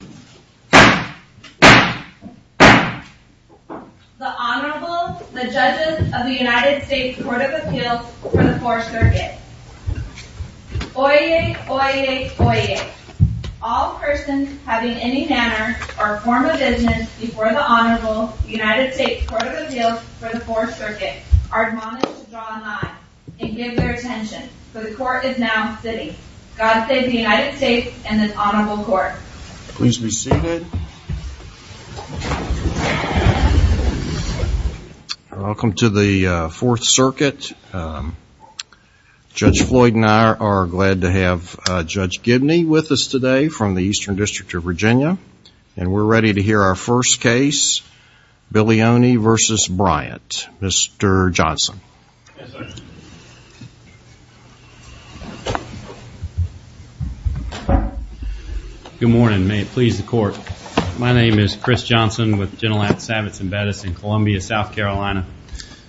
The Honorable, the Judges of the United States Court of Appeals for the Fourth Circuit. Oyez, oyez, oyez. All persons having any manner or form of business before the Honorable United States Court of Appeals for the Fourth Circuit are admonished to draw a line and give their attention, for the Court is now sitting. God save the United States and this Honorable Court. Please be seated. Welcome to the Fourth Circuit. Judge Floyd and I are glad to have Judge Gibney with us today from the Eastern District of Virginia, and we're ready to hear our first case, Billioni v. Bryant. Mr. Johnson. Yes, sir. Good morning. May it please the Court. My name is Chris Johnson with Gentilac Savitz & Bettis in Columbia, South Carolina,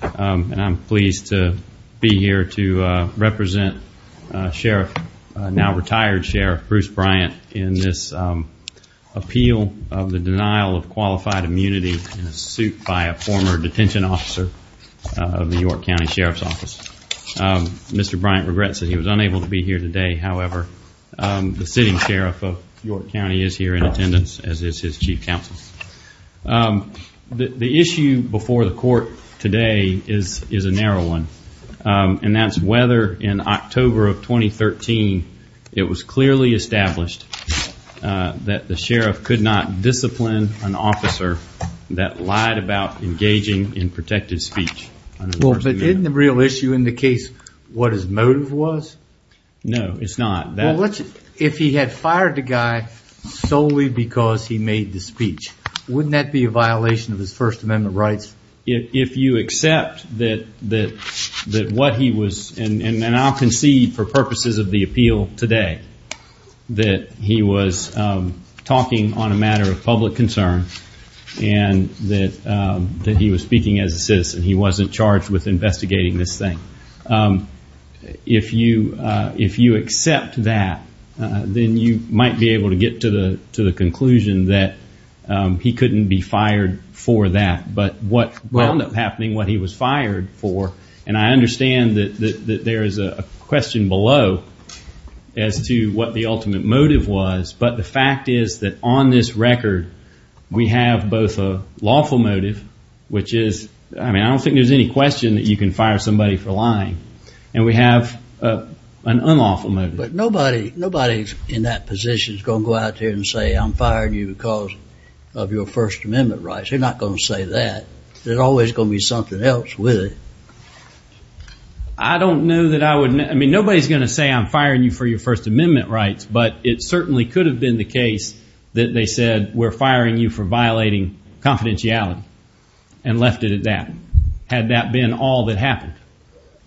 and I'm pleased to be here to represent Sheriff, now retired Sheriff, Bruce Bryant in this appeal of the denial of qualified immunity in a suit by a former detention officer of the York County Sheriff's Office. Mr. Bryant regrets that he was unable to be here today, however, the sitting Sheriff of York County is here in attendance, as is his Chief Counsel. The issue before the Court today is a narrow one, and that's whether in October of 2013 it was clearly established that the Sheriff could not discipline an officer that lied about engaging in protected speech. But isn't the real issue in the case what his motive was? No, it's not. If he had fired the guy solely because he made the speech, wouldn't that be a violation of his First Amendment rights? If you accept that what he was, and I'll concede for purposes of the appeal today, that he was talking on a matter of public concern, and that he was speaking as a citizen, he wasn't charged with investigating this thing. If you accept that, then you might be able to get to the conclusion that he couldn't be fired for that. But what wound up happening, what he was fired for, and I understand that there is a question below as to what the ultimate motive was. But the fact is that on this record, we have both a lawful motive, which is, I mean, I don't think there's any question that you can fire somebody for lying, and we have an unlawful motive. But nobody in that position is going to go out there and say, I'm firing you because of your First Amendment rights. They're not going to say that. There's always going to be something else with it. I don't know that I would, I mean, nobody's going to say I'm firing you for your First Amendment rights, but it certainly could have been the case that they said, we're firing you for violating confidentiality, and left it at that, had that been all that happened.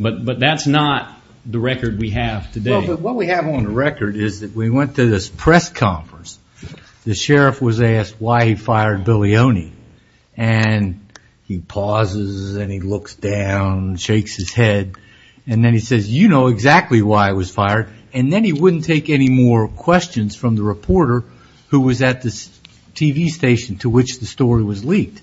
But that's not the record we have today. But what we have on the record is that we went to this press conference. The sheriff was asked why he fired Bilioni, and he pauses and he looks down, shakes his head, and then he says, you know exactly why I was fired. And then he wouldn't take any more questions from the reporter who was at the TV station to which the story was leaked.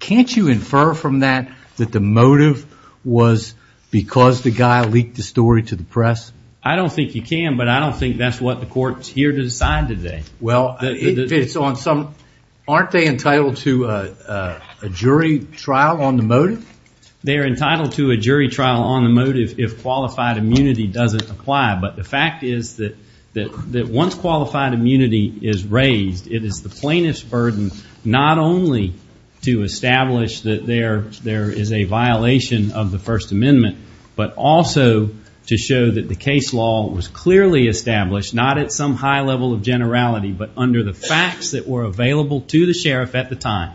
Can't you infer from that that the motive was because the guy leaked the story to the press? I don't think you can, but I don't think that's what the court's here to decide today. Well, aren't they entitled to a jury trial on the motive? They are entitled to a jury trial on the motive if qualified immunity doesn't apply. But the fact is that once qualified immunity is raised, it is the plaintiff's burden not only to establish that there is a violation of the First Amendment, but also to show that the case law was clearly established, not at some high level of generality, but under the facts that were available to the sheriff at the time,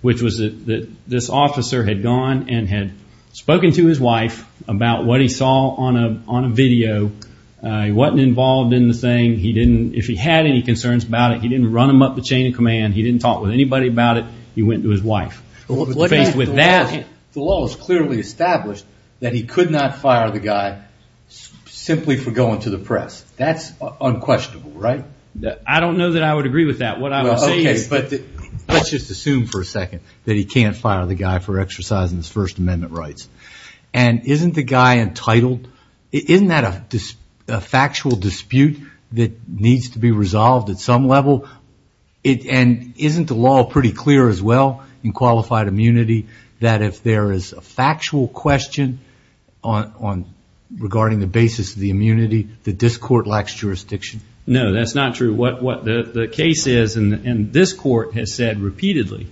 which was that this officer had gone and had spoken to his wife about what he saw on a video. He wasn't involved in the thing. If he had any concerns about it, he didn't run him up the chain of command. He didn't talk with anybody about it. He went to his wife. The law was clearly established that he could not fire the guy simply for going to the press. That's unquestionable, right? I don't know that I would agree with that. Let's just assume for a second that he can't fire the guy for exercising his First Amendment rights. And isn't the guy entitled? Isn't that a factual dispute that needs to be resolved at some level? And isn't the law pretty clear as well in qualified immunity that if there is a factual question regarding the basis of the immunity, the discord lacks jurisdiction? No, that's not true. What the case is, and this court has said repeatedly,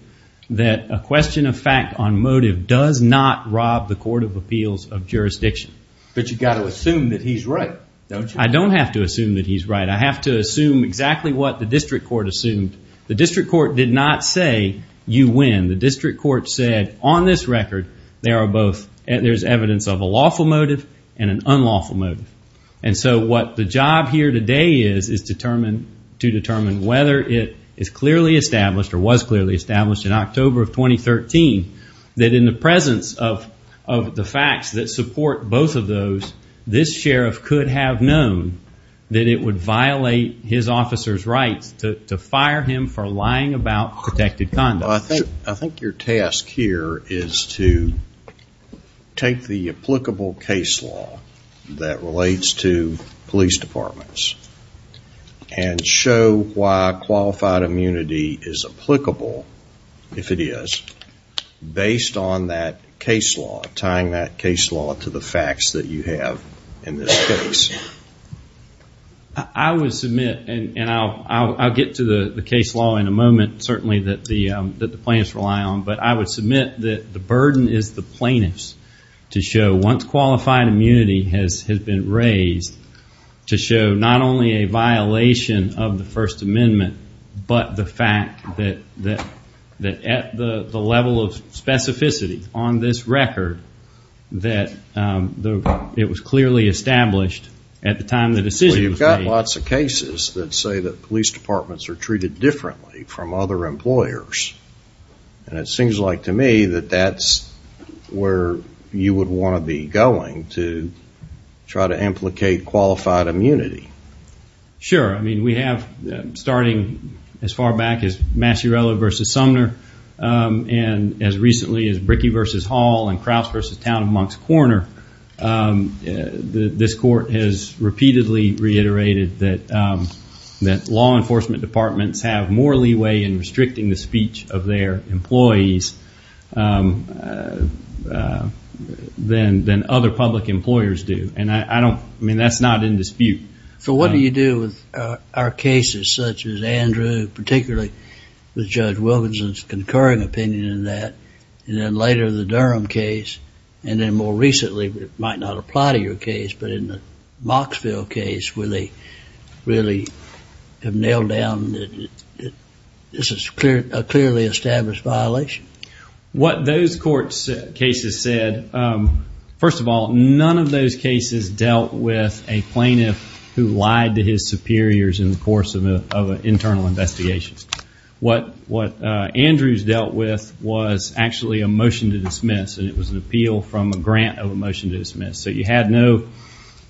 that a question of fact on motive does not rob the court of appeals of jurisdiction. But you've got to assume that he's right, don't you? I don't have to assume that he's right. I have to assume exactly what the district court assumed. The district court did not say, you win. The district court said, on this record, there's evidence of a lawful motive and an unlawful motive. And so what the job here today is to determine whether it is clearly established or was clearly established in October of 2013 that in the presence of the facts that support both of those, this sheriff could have known that it would violate his officer's rights to fire him for lying about protected conduct. So I think your task here is to take the applicable case law that relates to police departments and show why qualified immunity is applicable, if it is, based on that case law, tying that case law to the facts that you have in this case. I would submit, and I'll get to the case law in a moment, certainly, that the plaintiffs rely on, but I would submit that the burden is the plaintiffs to show, once qualified immunity has been raised, to show not only a violation of the First Amendment, but the fact that at the level of specificity on this record, that it was clearly established at the time the decision was made. Well, you've got lots of cases that say that police departments are treated differently from other employers. And it seems like to me that that's where you would want to be going, to try to implicate qualified immunity. Sure. I mean, we have, starting as far back as Massierello v. Sumner, and as recently as Brickey v. Hall and Kraus v. Town of Moncks Corner, this court has repeatedly reiterated that law enforcement departments have more leeway in restricting the speech of their employees than other public employers do. And I don't, I mean, that's not in dispute. So what do you do with our cases, such as Andrew, particularly with Judge Wilkinson's concurring opinion in that, and then later the Durham case, and then more recently, but it might not apply to your case, but in the Mocksville case where they really have nailed down that this is a clearly established violation? What those court cases said, first of all, none of those cases dealt with a plaintiff who lied to his superiors in the course of an internal investigation. What Andrews dealt with was actually a motion to dismiss, and it was an appeal from a grant of a motion to dismiss. So you had no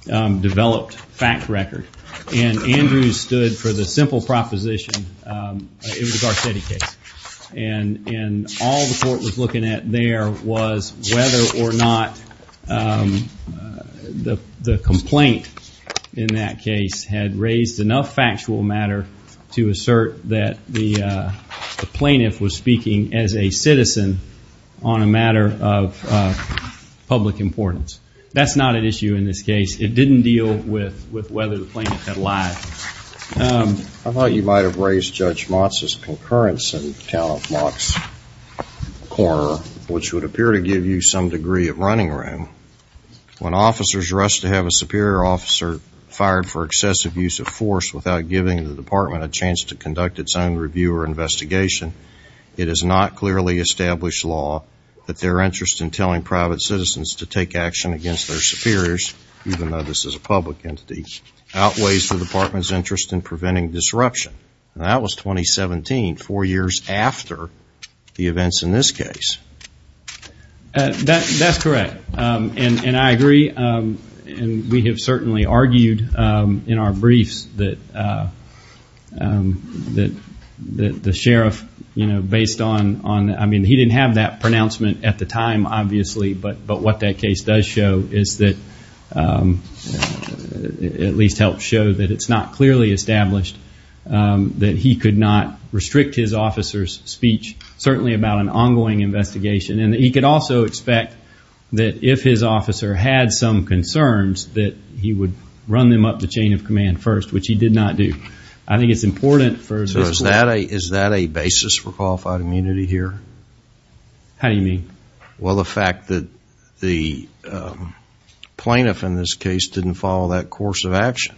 developed fact record. And Andrews stood for the simple proposition it was a Garcetti case. And all the court was looking at there was whether or not the complaint in that case had raised enough factual matter to assert that the plaintiff was speaking as a citizen on a matter of public importance. That's not an issue in this case. It didn't deal with whether the plaintiff had lied. I thought you might have raised Judge Motz's concurrence in account of Mock's corner, which would appear to give you some degree of running room. When officers rush to have a superior officer fired for excessive use of force without giving the department a chance to conduct its own review or investigation, it is not clearly established law that their interest in telling private citizens to take action against their superiors, even though this is a public entity, outweighs the department's interest in preventing disruption. And that was 2017, four years after the events in this case. That's correct. And I agree. And we have certainly argued in our briefs that the sheriff, you know, based on, I mean, he didn't have that pronouncement at the time, obviously, but what that case does show is that it at least helps show that it's not clearly established that he could not restrict his officer's speech, certainly about an ongoing investigation, and that he could also expect that if his officer had some concerns, that he would run them up the chain of command first, which he did not do. I think it's important for this law. So is that a basis for qualified immunity here? How do you mean? Well, the fact that the plaintiff in this case didn't follow that course of action.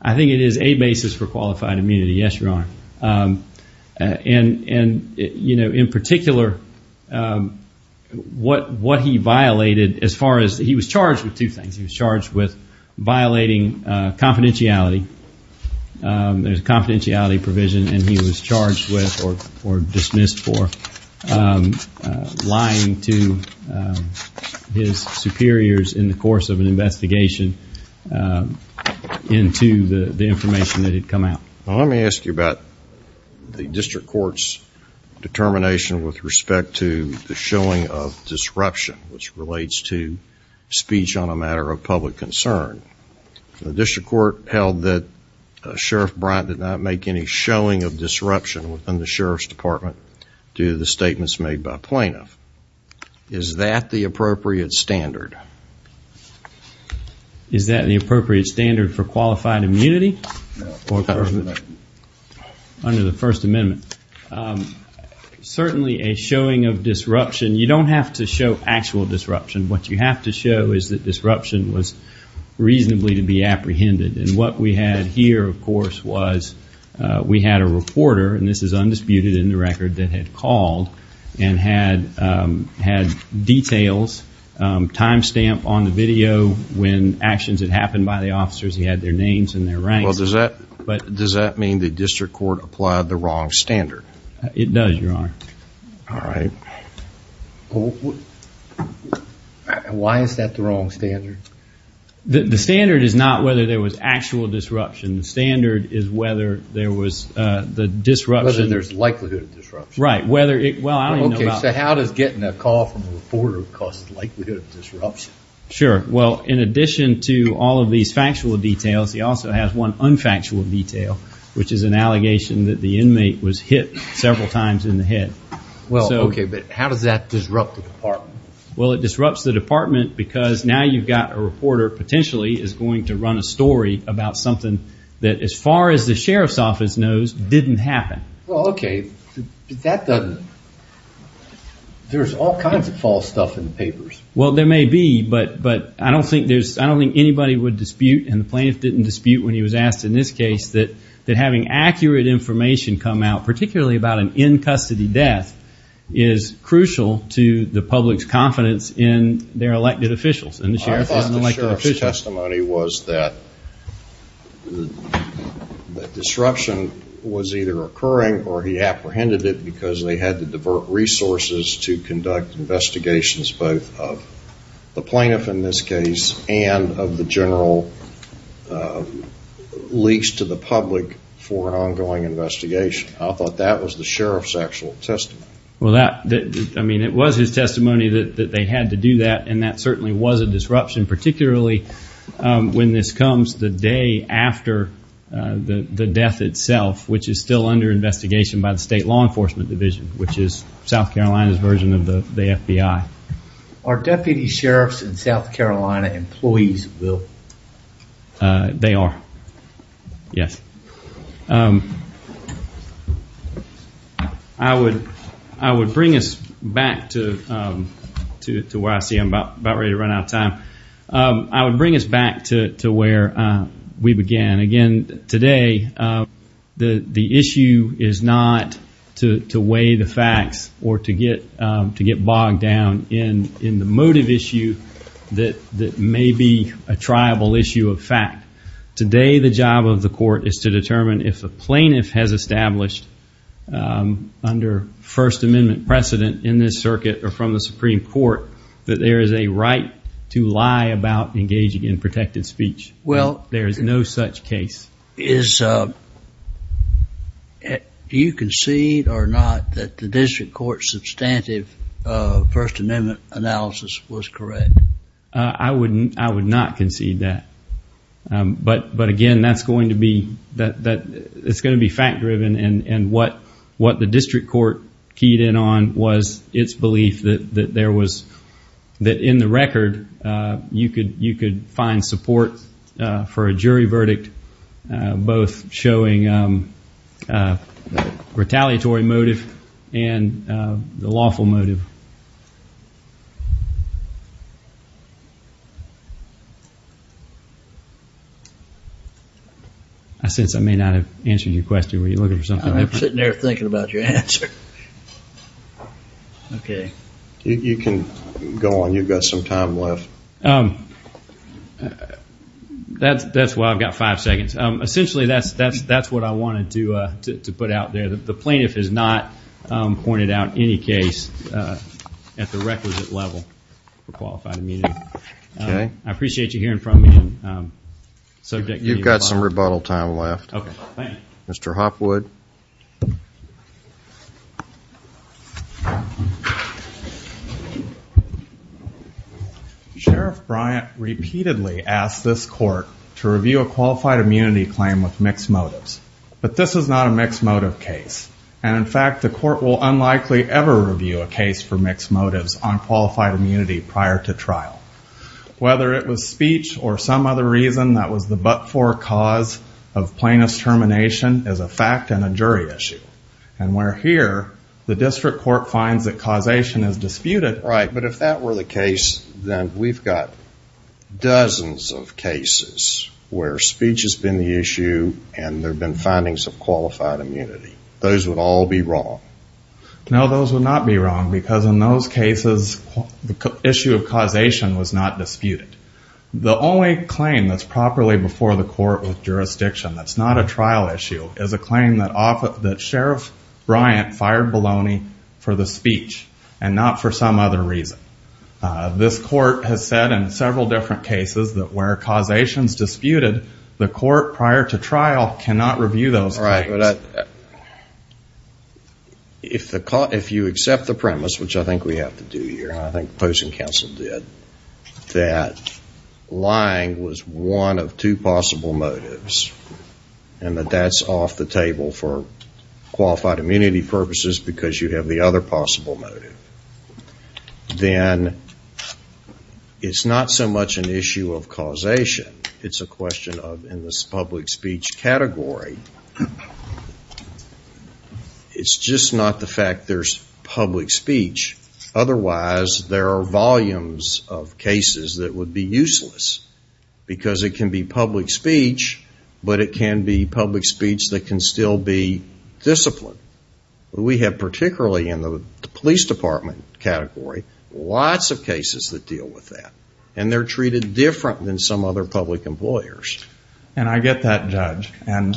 I think it is a basis for qualified immunity. Yes, Your Honor. And, you know, in particular, what he violated as far as he was charged with two things. He was charged with violating confidentiality. There's a confidentiality provision, and he was charged with or dismissed for lying to his superiors in the course of an investigation into the information that had come out. Well, let me ask you about the district court's determination with respect to the showing of disruption, which relates to speech on a matter of public concern. The district court held that Sheriff Bryant did not make any showing of disruption within the sheriff's department due to the statements made by plaintiff. Is that the appropriate standard? Is that the appropriate standard for qualified immunity? No. Under the First Amendment. Certainly a showing of disruption. You don't have to show actual disruption. What you have to show is that disruption was reasonably to be apprehended. And what we had here, of course, was we had a reporter, and this is undisputed in the record, that had called and had details, time stamp on the video when actions had happened by the officers. He had their names and their ranks. Does that mean the district court applied the wrong standard? It does, Your Honor. All right. Why is that the wrong standard? The standard is not whether there was actual disruption. The standard is whether there was the disruption. Whether there's likelihood of disruption. Right. So how does getting a call from a reporter cause likelihood of disruption? Sure. Well, in addition to all of these factual details, he also has one unfactual detail, which is an allegation that the inmate was hit several times in the head. Well, okay, but how does that disrupt the department? Well, it disrupts the department because now you've got a reporter potentially is going to run a story that, as far as the sheriff's office knows, didn't happen. Well, okay, but that doesn't – there's all kinds of false stuff in the papers. Well, there may be, but I don't think anybody would dispute, and the plaintiff didn't dispute when he was asked in this case, that having accurate information come out, particularly about an in-custody death, is crucial to the public's confidence in their elected officials and the sheriff's elected officials. Well, his testimony was that disruption was either occurring or he apprehended it because they had to divert resources to conduct investigations, both of the plaintiff in this case and of the general leaks to the public for an ongoing investigation. I thought that was the sheriff's actual testimony. Well, I mean, it was his testimony that they had to do that, and that certainly was a disruption, particularly when this comes the day after the death itself, which is still under investigation by the State Law Enforcement Division, which is South Carolina's version of the FBI. Are deputy sheriffs and South Carolina employees, Will? They are, yes. I would bring us back to where I see I'm about ready to run out of time. I would bring us back to where we began. Again, today the issue is not to weigh the facts or to get bogged down in the motive issue that may be a tribal issue of fact. Today the job of the court is to determine if a plaintiff has established under First Amendment precedent in this circuit or from the Supreme Court that there is a right to lie about engaging in protected speech. Well, there is no such case. Do you concede or not that the district court's substantive First Amendment analysis was correct? I would not concede that. But, again, that's going to be fact-driven, and what the district court keyed in on was its belief that in the record you could find support for a jury verdict, both showing retaliatory motive and the lawful motive. I sense I may not have answered your question. Were you looking for something different? I'm sitting there thinking about your answer. You can go on. You've got some time left. That's why I've got five seconds. Essentially, that's what I wanted to put out there. The plaintiff has not pointed out any case at the requisite level for qualified immunity. I appreciate you hearing from me. You've got some rebuttal time left. Mr. Hopwood. Sheriff Bryant repeatedly asked this court to review a qualified immunity claim with mixed motives, but this is not a mixed motive case, and, in fact, the court will unlikely ever review a case for mixed motives on qualified immunity prior to trial. Whether it was speech or some other reason that was the but-for cause of plaintiff's termination is a fact, and we're here. The district court finds that causation is disputed. Right, but if that were the case, then we've got dozens of cases where speech has been the issue and there have been findings of qualified immunity. Those would all be wrong. No, those would not be wrong because, in those cases, the issue of causation was not disputed. The only claim that's properly before the court with jurisdiction that's not a trial issue is a claim that Sheriff Bryant fired Baloney for the speech and not for some other reason. This court has said in several different cases that where causation is disputed, the court prior to trial cannot review those claims. Right, but if you accept the premise, which I think we have to do here, and I think the opposing counsel did, that lying was one of two possible motives and that that's off the table for qualified immunity purposes because you have the other possible motive, then it's not so much an issue of causation. It's a question of, in this public speech category, it's just not the fact there's public speech. Because it can be public speech, but it can be public speech that can still be disciplined. We have, particularly in the police department category, lots of cases that deal with that and they're treated different than some other public employers. And I get that, Judge. And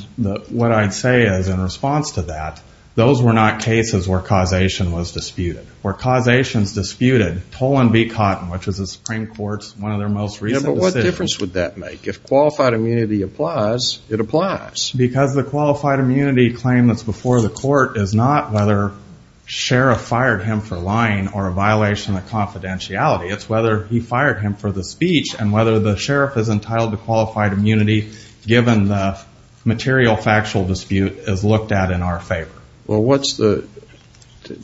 what I'd say is, in response to that, those were not cases where causation was disputed. Tolan v. Cotton, which was the Supreme Court's, one of their most recent decisions. Yeah, but what difference would that make? If qualified immunity applies, it applies. Because the qualified immunity claim that's before the court is not whether Sheriff fired him for lying or a violation of confidentiality. It's whether he fired him for the speech and whether the Sheriff is entitled to qualified immunity given the material factual dispute is looked at in our favor. Well, what's the,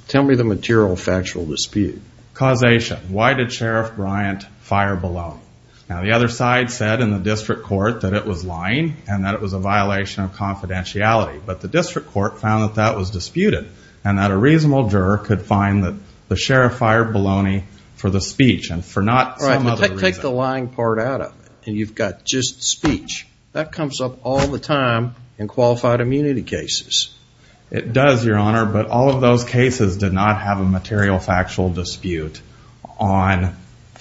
tell me the material factual dispute. Causation. Why did Sheriff Bryant fire Bologna? Now, the other side said in the district court that it was lying and that it was a violation of confidentiality. But the district court found that that was disputed and that a reasonable juror could find that the Sheriff fired Bologna for the speech and for not some other reason. Right, but take the lying part out of it and you've got just speech. That comes up all the time in qualified immunity cases. It does, Your Honor, but all of those cases did not have a material factual dispute on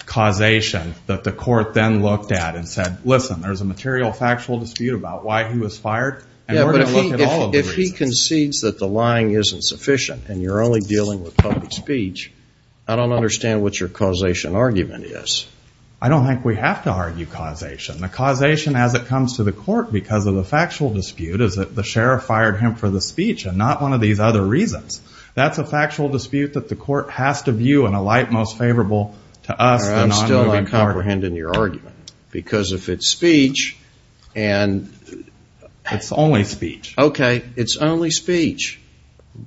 causation that the court then looked at and said, listen, there's a material factual dispute about why he was fired and we're going to look at all of the reasons. Yeah, but if he concedes that the lying isn't sufficient and you're only dealing with public speech, I don't understand what your causation argument is. I don't think we have to argue causation. The causation as it comes to the court because of the factual dispute is that the Sheriff fired him for the speech and not one of these other reasons. That's a factual dispute that the court has to view in a light most favorable to us, the nonmoving court. I'm still not comprehending your argument because if it's speech and... It's only speech. Okay, it's only speech.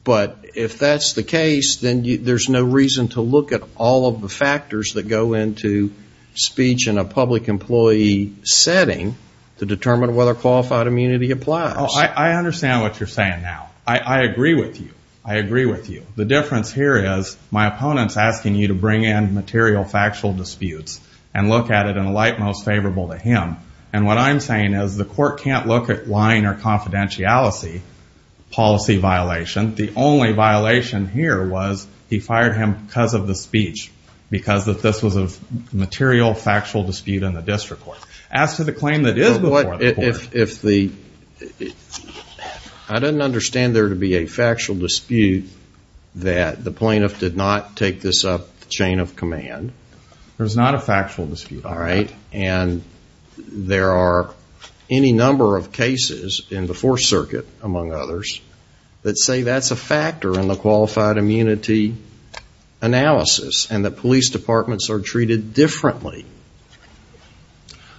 But if that's the case, then there's no reason to look at all of the factors that go into speech in a public employee setting to determine whether qualified immunity applies. I understand what you're saying now. I agree with you. I agree with you. The difference here is my opponent's asking you to bring in material factual disputes and look at it in a light most favorable to him. And what I'm saying is the court can't look at lying or confidentiality policy violation. The only violation here was he fired him because of the speech, because this was a material factual dispute in the district court. As to the claim that is before the court... I don't understand there to be a factual dispute that the plaintiff did not take this up the chain of command. There's not a factual dispute. All right. And there are any number of cases in the Fourth Circuit, among others, that say that's a factor in the qualified immunity analysis. And that police departments are treated differently.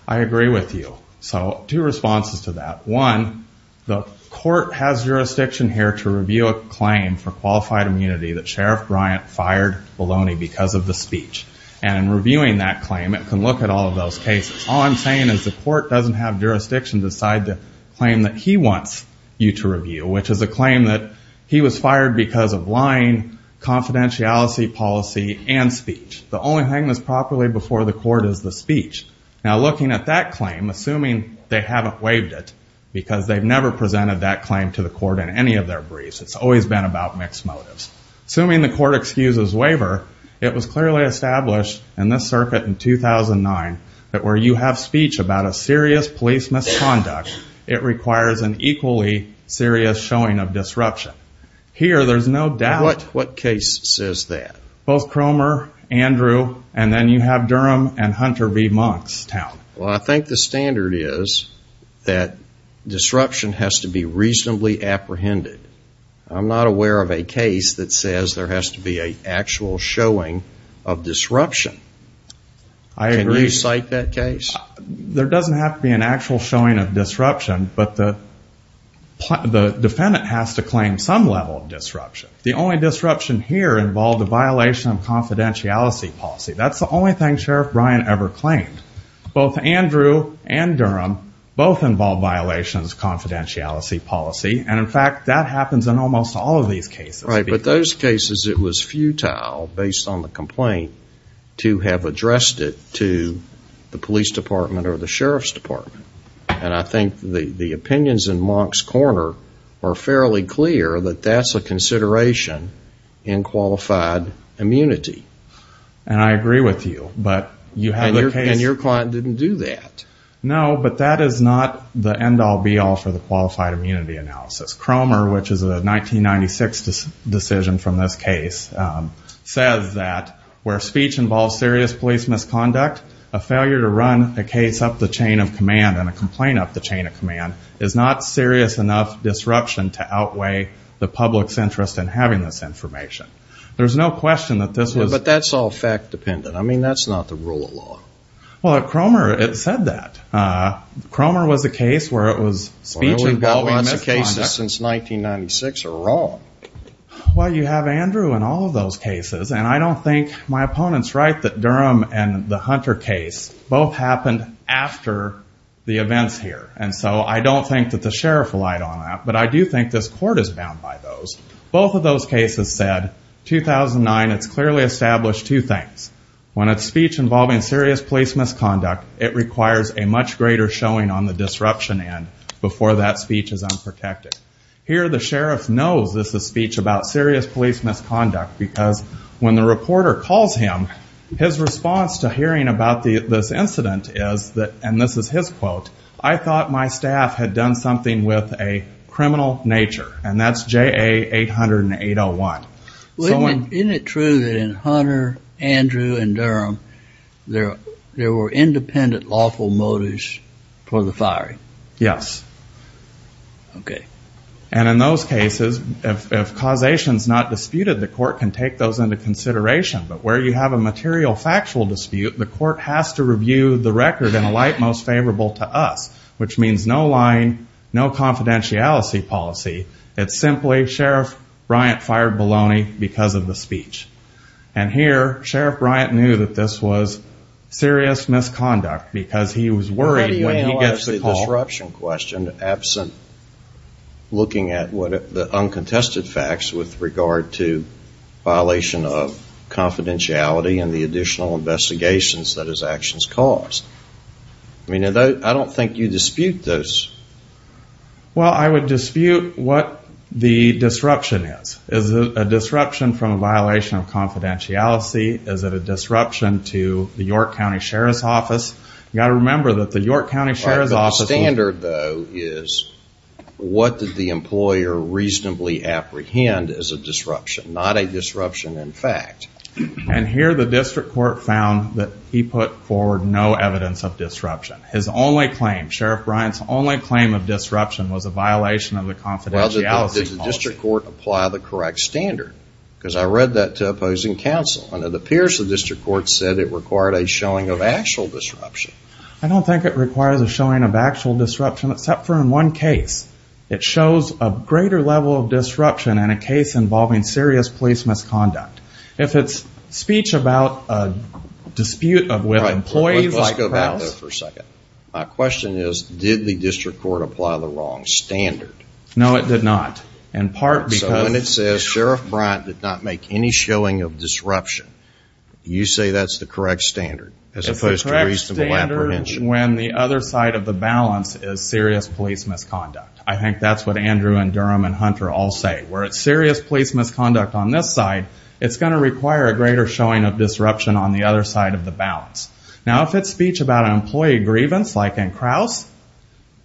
I agree with you. So two responses to that. One, the court has jurisdiction here to review a claim for qualified immunity that Sheriff Bryant fired Bologna because of the speech. And in reviewing that claim, it can look at all of those cases. All I'm saying is the court doesn't have jurisdiction to decide the claim that he wants you to review, which is a claim that he was fired because of lying, confidentiality policy, and speech. The only thing that's properly before the court is the speech. Now, looking at that claim, assuming they haven't waived it, because they've never presented that claim to the court in any of their briefs. It's always been about mixed motives. Assuming the court excuses waiver, it was clearly established in this circuit in 2009 that where you have speech about a serious police misconduct, it requires an equally serious showing of disruption. Here, there's no doubt. What case says that? Both Cromer, Andrew, and then you have Durham and Hunter v. Monkstown. Well, I think the standard is that disruption has to be reasonably apprehended. I'm not aware of a case that says there has to be an actual showing of disruption. I agree. Can you cite that case? There doesn't have to be an actual showing of disruption, but the defendant has to claim some level of disruption. The only disruption here involved a violation of confidentiality policy. That's the only thing Sheriff Bryan ever claimed. Both Andrew and Durham both involved violations of confidentiality policy, and, in fact, that happens in almost all of these cases. Right, but those cases it was futile, based on the complaint, to have addressed it to the police department or the sheriff's department. And I think the opinions in Monk's Corner are fairly clear that that's a consideration in qualified immunity. And I agree with you. And your client didn't do that. No, but that is not the end-all, be-all for the qualified immunity analysis. Cromer, which is a 1996 decision from this case, says that where speech involves serious police misconduct, a failure to run a case up the chain of command and a complaint up the chain of command is not serious enough disruption to outweigh the public's interest in having this information. There's no question that this was. But that's all fact-dependent. I mean, that's not the rule of law. Well, at Cromer it said that. Cromer was a case where it was speech involving misconduct. Well, we've got lots of cases since 1996 that are wrong. Well, you have Andrew in all of those cases. And I don't think my opponent's right that Durham and the Hunter case both happened after the events here. And so I don't think that the sheriff relied on that. But I do think this court is bound by those. Both of those cases said 2009, it's clearly established two things. When it's speech involving serious police misconduct, it requires a much greater showing on the disruption end before that speech is unprotected. Here the sheriff knows this is speech about serious police misconduct because when the reporter calls him, his response to hearing about this incident is that, and this is his quote, I thought my staff had done something with a criminal nature. And that's JA-808-01. Isn't it true that in Hunter, Andrew, and Durham, there were independent lawful motives for the firing? Yes. Okay. And in those cases, if causation's not disputed, the court can take those into consideration. But where you have a material factual dispute, the court has to review the record in a light most favorable to us, which means no lying, no confidentiality policy. It's simply Sheriff Bryant fired Bologna because of the speech. And here Sheriff Bryant knew that this was serious misconduct because he was worried when he gets the call. How do you analyze the disruption question absent looking at the uncontested facts with regard to violation of confidentiality and the additional investigations that his actions caused? I mean, I don't think you dispute those. Well, I would dispute what the disruption is. Is it a disruption from a violation of confidentiality? Is it a disruption to the York County Sheriff's Office? You've got to remember that the York County Sheriff's Office The standard, though, is what did the employer reasonably apprehend as a disruption, not a disruption in fact. And here the district court found that he put forward no evidence of disruption. His only claim, Sheriff Bryant's only claim of disruption, was a violation of the confidentiality policy. Well, did the district court apply the correct standard? Because I read that to opposing counsel, and it appears the district court said it required a showing of actual disruption. I don't think it requires a showing of actual disruption, except for in one case. It shows a greater level of disruption in a case involving serious police misconduct. If it's speech about a dispute with employees like Krauss Let's go back there for a second. My question is, did the district court apply the wrong standard? No, it did not. So when it says Sheriff Bryant did not make any showing of disruption, you say that's the correct standard? It's the correct standard when the other side of the balance is serious police misconduct. I think that's what Andrew and Durham and Hunter all say. Where it's serious police misconduct on this side, it's going to require a greater showing of disruption on the other side of the balance. Now, if it's speech about an employee grievance like in Krauss,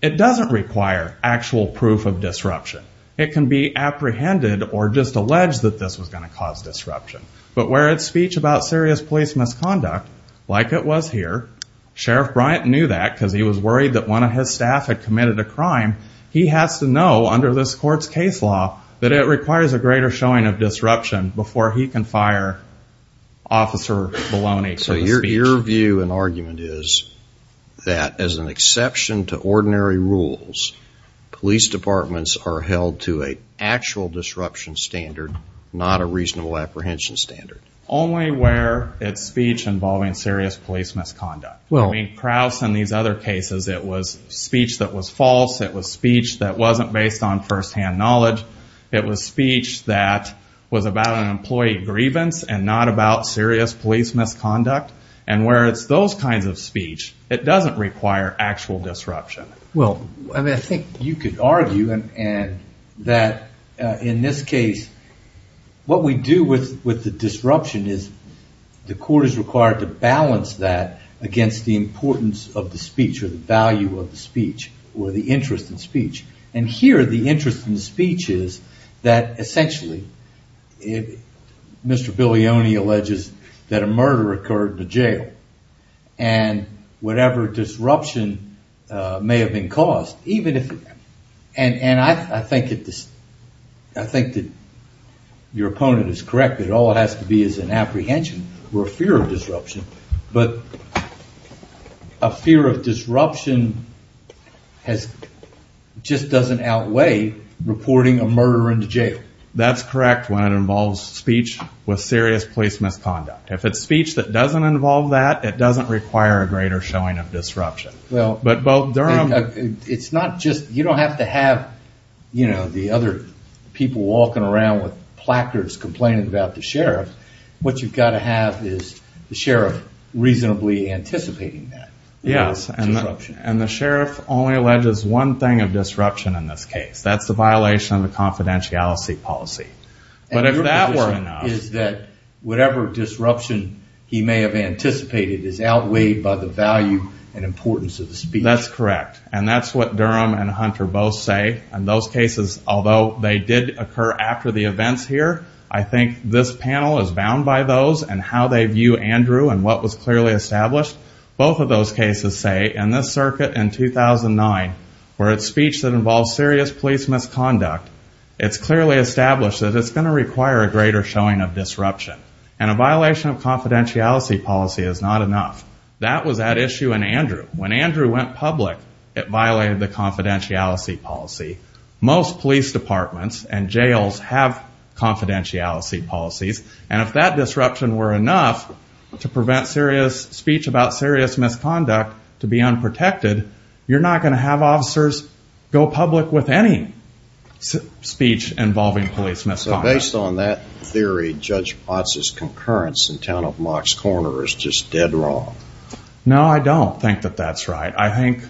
it doesn't require actual proof of disruption. It can be apprehended or just alleged that this was going to cause disruption. But where it's speech about serious police misconduct, like it was here, Sheriff Bryant knew that because he was worried that one of his staff had committed a crime. He has to know under this court's case law that it requires a greater showing of disruption before he can fire Officer Bologna for the speech. So your view and argument is that as an exception to ordinary rules, police departments are held to an actual disruption standard, not a reasonable apprehension standard. Only where it's speech involving serious police misconduct. Krauss and these other cases, it was speech that was false. It was speech that wasn't based on firsthand knowledge. It was speech that was about an employee grievance and not about serious police misconduct. And where it's those kinds of speech, it doesn't require actual disruption. Well, I think you could argue that in this case, what we do with the disruption is the court is required to balance that against the importance of the speech or the value of the speech or the interest in speech. And here the interest in the speech is that essentially Mr. Bologna alleges that a murder occurred in a jail. And whatever disruption may have been caused, even if... And I think that your opponent is correct that it all has to be as an apprehension or a fear of disruption. But a fear of disruption just doesn't outweigh reporting a murder in the jail. That's correct when it involves speech with serious police misconduct. If it's speech that doesn't involve that, it doesn't require a greater showing of disruption. But both Durham... It's not just, you don't have to have the other people walking around with placards complaining about the sheriff. What you've got to have is the sheriff reasonably anticipating that. Yes, and the sheriff only alleges one thing of disruption in this case. That's the violation of the confidentiality policy. And your position is that whatever disruption he may have anticipated is outweighed by the value and importance of the speech. That's correct, and that's what Durham and Hunter both say. And those cases, although they did occur after the events here, I think this panel is bound by those and how they view Andrew and what was clearly established. Both of those cases say in this circuit in 2009, where it's speech that involves serious police misconduct, it's clearly established that it's going to require a greater showing of disruption. And a violation of confidentiality policy is not enough. That was at issue in Andrew. When Andrew went public, it violated the confidentiality policy. Most police departments and jails have confidentiality policies. And if that disruption were enough to prevent speech about serious misconduct to be unprotected, you're not going to have officers go public with any speech involving police misconduct. Based on that theory, Judge Potts' concurrence in town of Mox Corner is just dead wrong. No, I don't think that that's right. I think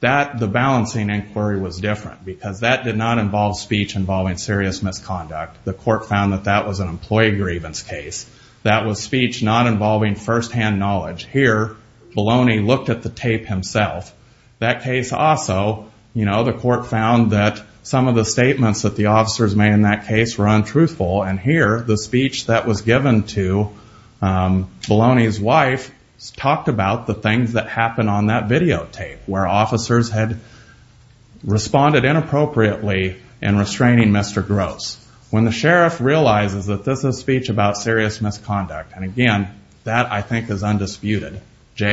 that the balancing inquiry was different because that did not involve speech involving serious misconduct. The court found that that was an employee grievance case. That was speech not involving firsthand knowledge. Here, Baloney looked at the tape himself. That case also, you know, the court found that some of the statements that the officers made in that case were untruthful. And here, the speech that was given to Baloney's wife talked about the things that happened on that videotape, where officers had responded inappropriately in restraining Mr. Gross. When the sheriff realizes that this is speech about serious misconduct, and again, that I think is undisputed, JA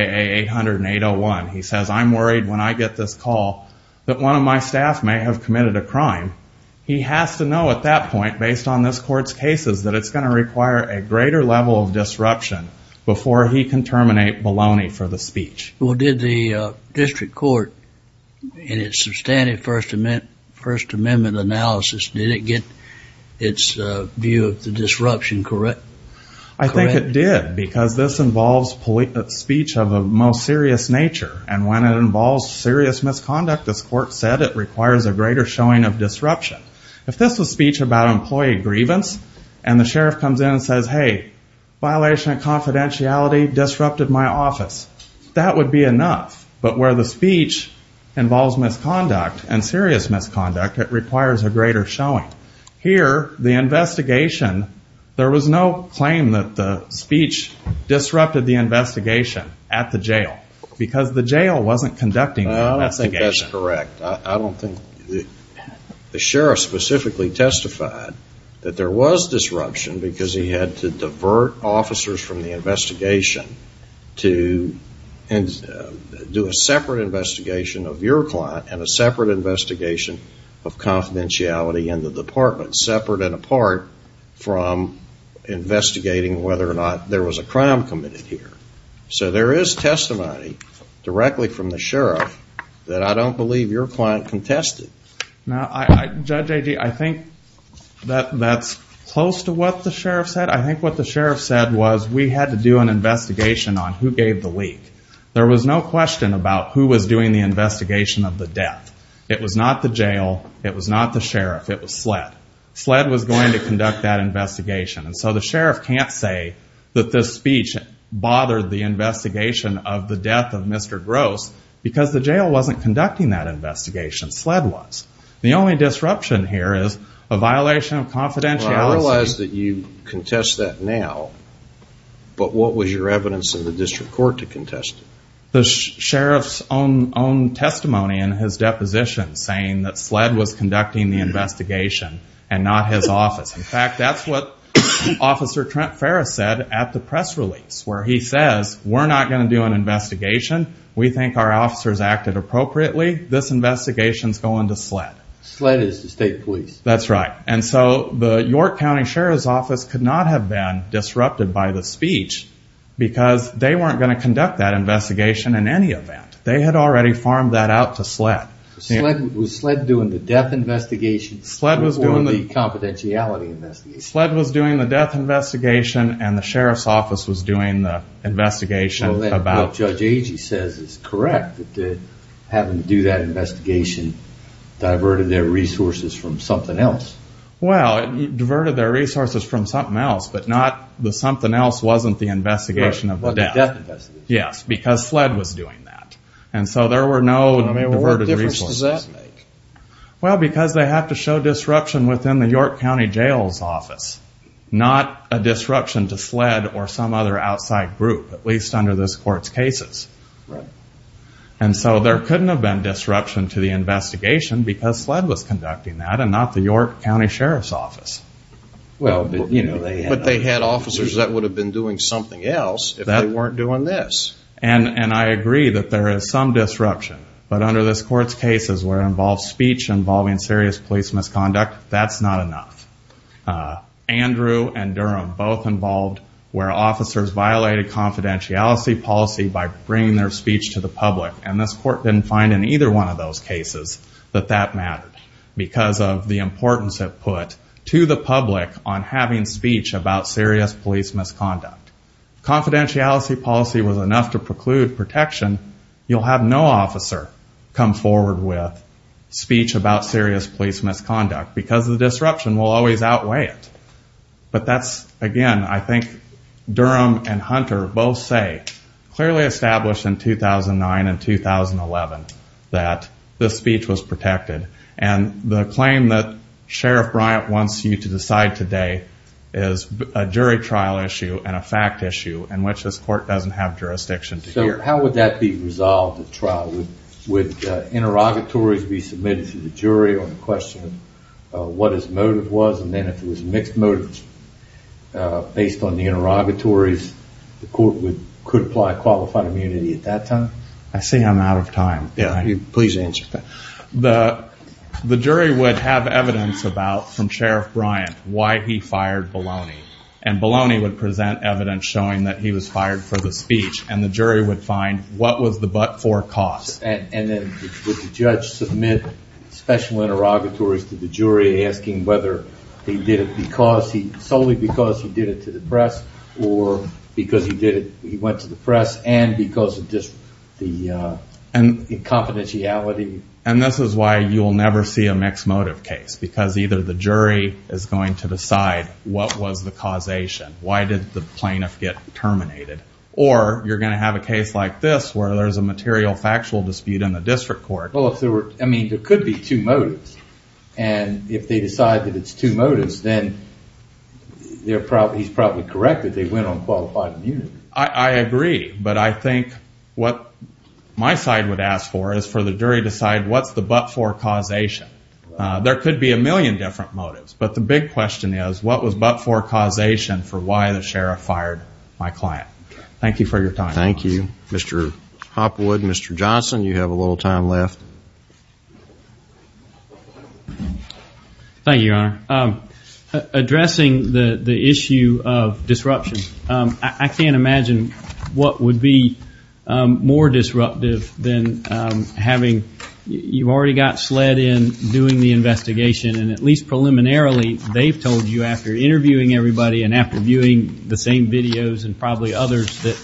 800-801, he says, I'm worried when I get this call that one of my staff may have committed a crime. He has to know at that point, based on this court's cases, that it's going to require a greater level of disruption before he can terminate Baloney for the speech. Well, did the district court in its substantive First Amendment analysis, did it get its view of the disruption correct? I think it did, because this involves speech of a most serious nature, and when it involves serious misconduct, as court said, it requires a greater showing of disruption. If this was speech about employee grievance, and the sheriff comes in and says, hey, violation of confidentiality disrupted my office, that would be enough. But where the speech involves misconduct and serious misconduct, it requires a greater showing. Here, the investigation, there was no claim that the speech disrupted the investigation at the jail, because the jail wasn't conducting the investigation. I don't think that's correct. I don't think the sheriff specifically testified that there was disruption, because he had to divert officers from the investigation to do a separate investigation of your client and a separate investigation of confidentiality in the department, separate and apart from investigating whether or not there was a crime committed here. So there is testimony directly from the sheriff that I don't believe your client contested. Now, Judge Agee, I think that's close to what the sheriff said. I think what the sheriff said was we had to do an investigation on who gave the leak. There was no question about who was doing the investigation of the death. It was not the jail. It was not the sheriff. It was SLED. SLED was going to conduct that investigation. And so the sheriff can't say that this speech bothered the investigation of the death of Mr. Gross, because the jail wasn't conducting that investigation. SLED was. The only disruption here is a violation of confidentiality. I realize that you contest that now, but what was your evidence in the district court to contest it? The sheriff's own testimony in his deposition saying that SLED was conducting the investigation and not his office. In fact, that's what Officer Trent Ferris said at the press release, where he says we're not going to do an investigation. We think our officers acted appropriately. This investigation is going to SLED. SLED is the state police. That's right. And so the York County Sheriff's Office could not have been disrupted by the speech because they weren't going to conduct that investigation in any event. They had already farmed that out to SLED. Was SLED doing the death investigation or the confidentiality investigation? SLED was doing the death investigation, and the sheriff's office was doing the investigation. What Judge Agee says is correct, that having to do that investigation diverted their resources from something else. Well, it diverted their resources from something else, but the something else wasn't the investigation of the death. It wasn't the death investigation. Yes, because SLED was doing that. And so there were no diverted resources. What difference does that make? Well, because they have to show disruption within the York County Jail's office, not a disruption to SLED or some other outside group, at least under this court's cases. Right. And so there couldn't have been disruption to the investigation because SLED was conducting that and not the York County Sheriff's Office. But they had officers that would have been doing something else if they weren't doing this. And I agree that there is some disruption, but under this court's cases where it involves speech involving serious police misconduct, that's not enough. Andrew and Durham both involved where officers violated confidentiality policy by bringing their speech to the public, and this court didn't find in either one of those cases that that mattered because of the importance it put to the public on having speech about serious police misconduct. Confidentiality policy was enough to preclude protection. You'll have no officer come forward with speech about serious police misconduct because the disruption will always outweigh it. But that's, again, I think Durham and Hunter both say, clearly established in 2009 and 2011, that the speech was protected. And the claim that Sheriff Bryant wants you to decide today is a jury trial issue and a fact issue in which this court doesn't have jurisdiction to hear. So how would that be resolved at trial? Would interrogatories be submitted to the jury on the question of what his motive was, and then if it was mixed motives based on the interrogatories, the court could apply qualified immunity at that time? I see I'm out of time. Please answer. The jury would have evidence about, from Sheriff Bryant, why he fired Bologna, and Bologna would present evidence showing that he was fired for the speech, and the jury would find what was the but-for cause. And then would the judge submit special interrogatories to the jury asking whether he did it solely because he did it to the press or because he went to the press and because of the confidentiality? And this is why you'll never see a mixed motive case, because either the jury is going to decide what was the causation, why did the plaintiff get terminated, or you're going to have a case like this where there's a material factual dispute in the district court. Well, I mean, there could be two motives, and if they decide that it's two motives, then he's probably correct that they went on qualified immunity. I agree, but I think what my side would ask for is for the jury to decide what's the but-for causation. There could be a million different motives, but the big question is what was but-for causation for why the sheriff fired my client. Thank you for your time. Thank you. Mr. Hopwood, Mr. Johnson, you have a little time left. Thank you, Your Honor. Addressing the issue of disruption, I can't imagine what would be more disruptive than having you already got sled in doing the investigation, and at least preliminarily, they've told you after interviewing everybody and after viewing the same videos and probably others that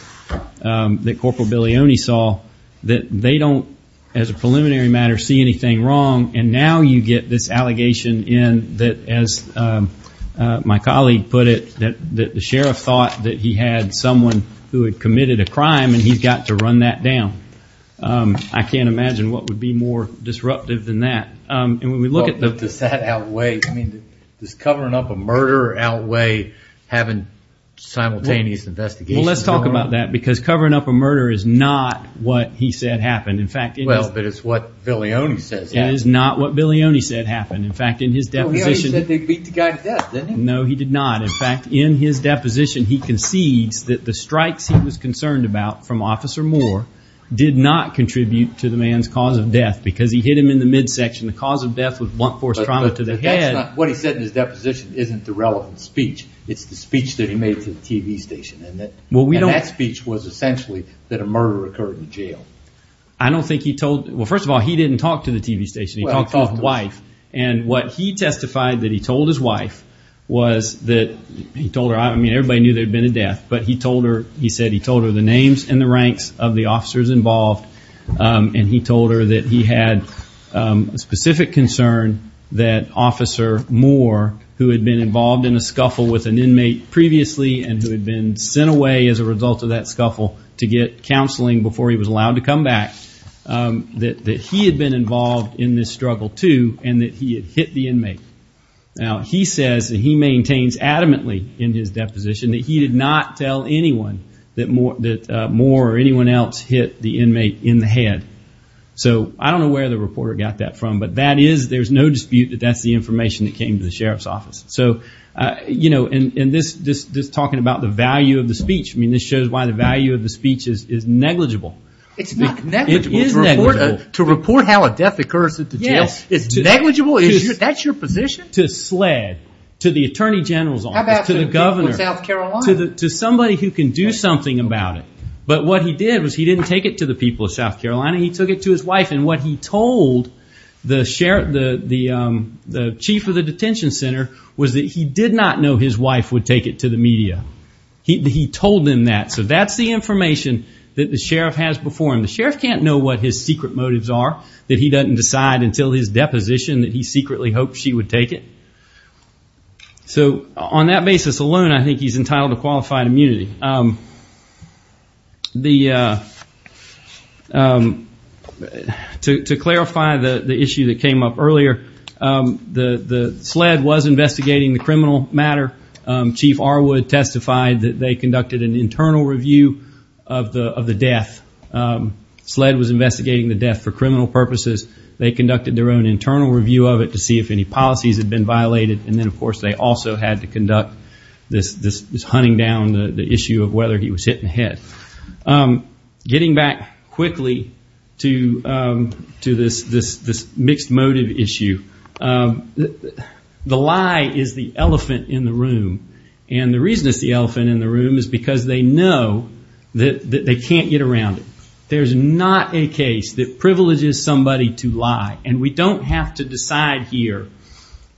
Corporal Bilioni saw that they don't, as a preliminary matter, see anything wrong, and now you get this allegation in that, as my colleague put it, that the sheriff thought that he had someone who had committed a crime and he's got to run that down. I can't imagine what would be more disruptive than that. Does covering up a murder outweigh having simultaneous investigations? Well, let's talk about that because covering up a murder is not what he said happened. Well, but it's what Bilioni says happened. It is not what Bilioni said happened. He said they beat the guy to death, didn't he? No, he did not. In fact, in his deposition, he concedes that the strikes he was concerned about from Officer Moore did not contribute to the man's cause of death because he hit him in the midsection. The cause of death was blunt force trauma to the head. But that's not what he said in his deposition isn't the relevant speech. It's the speech that he made to the TV station, and that speech was essentially that a murder occurred in jail. I don't think he told – well, first of all, he didn't talk to the TV station. He talked to his wife, and what he testified that he told his wife was that – he told her – I mean, everybody knew there had been a death, but he told her – he said he told her the names and the ranks of the officers involved, and he told her that he had a specific concern that Officer Moore, who had been involved in a scuffle with an inmate previously and who had been sent away as a result of that scuffle to get counseling before he was allowed to come back, that he had been involved in this struggle too and that he had hit the inmate. Now, he says that he maintains adamantly in his deposition that he did not tell anyone that Moore or anyone else hit the inmate in the head. So I don't know where the reporter got that from, but that is – there's no dispute that that's the information that came to the sheriff's office. So, you know, and this talking about the value of the speech, I mean, this shows why the value of the speech is negligible. It's not negligible. It is negligible. To report how a death occurs at the jail is negligible? That's your position? To sled, to the attorney general's office, to the governor, to somebody who can do something about it. But what he did was he didn't take it to the people of South Carolina. He took it to his wife, and what he told the chief of the detention center was that he did not know his wife would take it to the media. He told them that. So that's the information that the sheriff has before him. The sheriff can't know what his secret motives are, that he doesn't decide until his deposition that he secretly hoped she would take it. So on that basis alone, I think he's entitled to qualified immunity. To clarify the issue that came up earlier, the sled was investigating the criminal matter. Chief Arwood testified that they conducted an internal review of the death. Sled was investigating the death for criminal purposes. They conducted their own internal review of it to see if any policies had been violated. And then, of course, they also had to conduct this hunting down the issue of whether he was hit in the head. Getting back quickly to this mixed motive issue, the lie is the elephant in the room. And the reason it's the elephant in the room is because they know that they can't get around it. There's not a case that privileges somebody to lie. And we don't have to decide here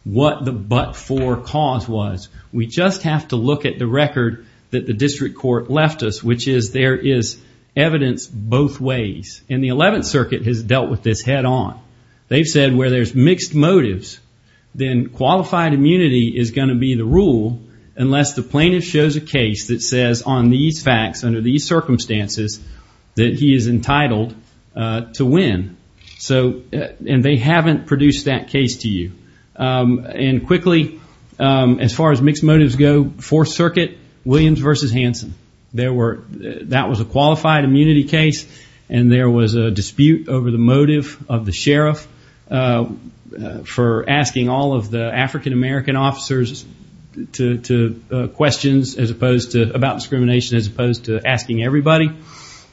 what the but-for cause was. We just have to look at the record that the district court left us, which is there is evidence both ways. And the 11th Circuit has dealt with this head on. They've said where there's mixed motives, then qualified immunity is going to be the rule unless the plaintiff shows a case that says on these facts, under these circumstances, that he is entitled to win. And they haven't produced that case to you. And quickly, as far as mixed motives go, Fourth Circuit, Williams v. Hansen. That was a qualified immunity case, and there was a dispute over the motive of the sheriff for asking all of the African-American officers questions about discrimination as opposed to asking everybody.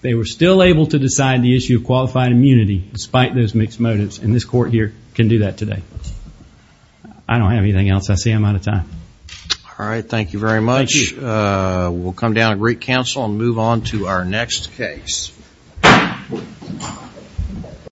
They were still able to decide the issue of qualified immunity despite those mixed motives, and this court here can do that today. I don't have anything else. I see I'm out of time. All right. Thank you very much. We'll come down to great counsel and move on to our next case.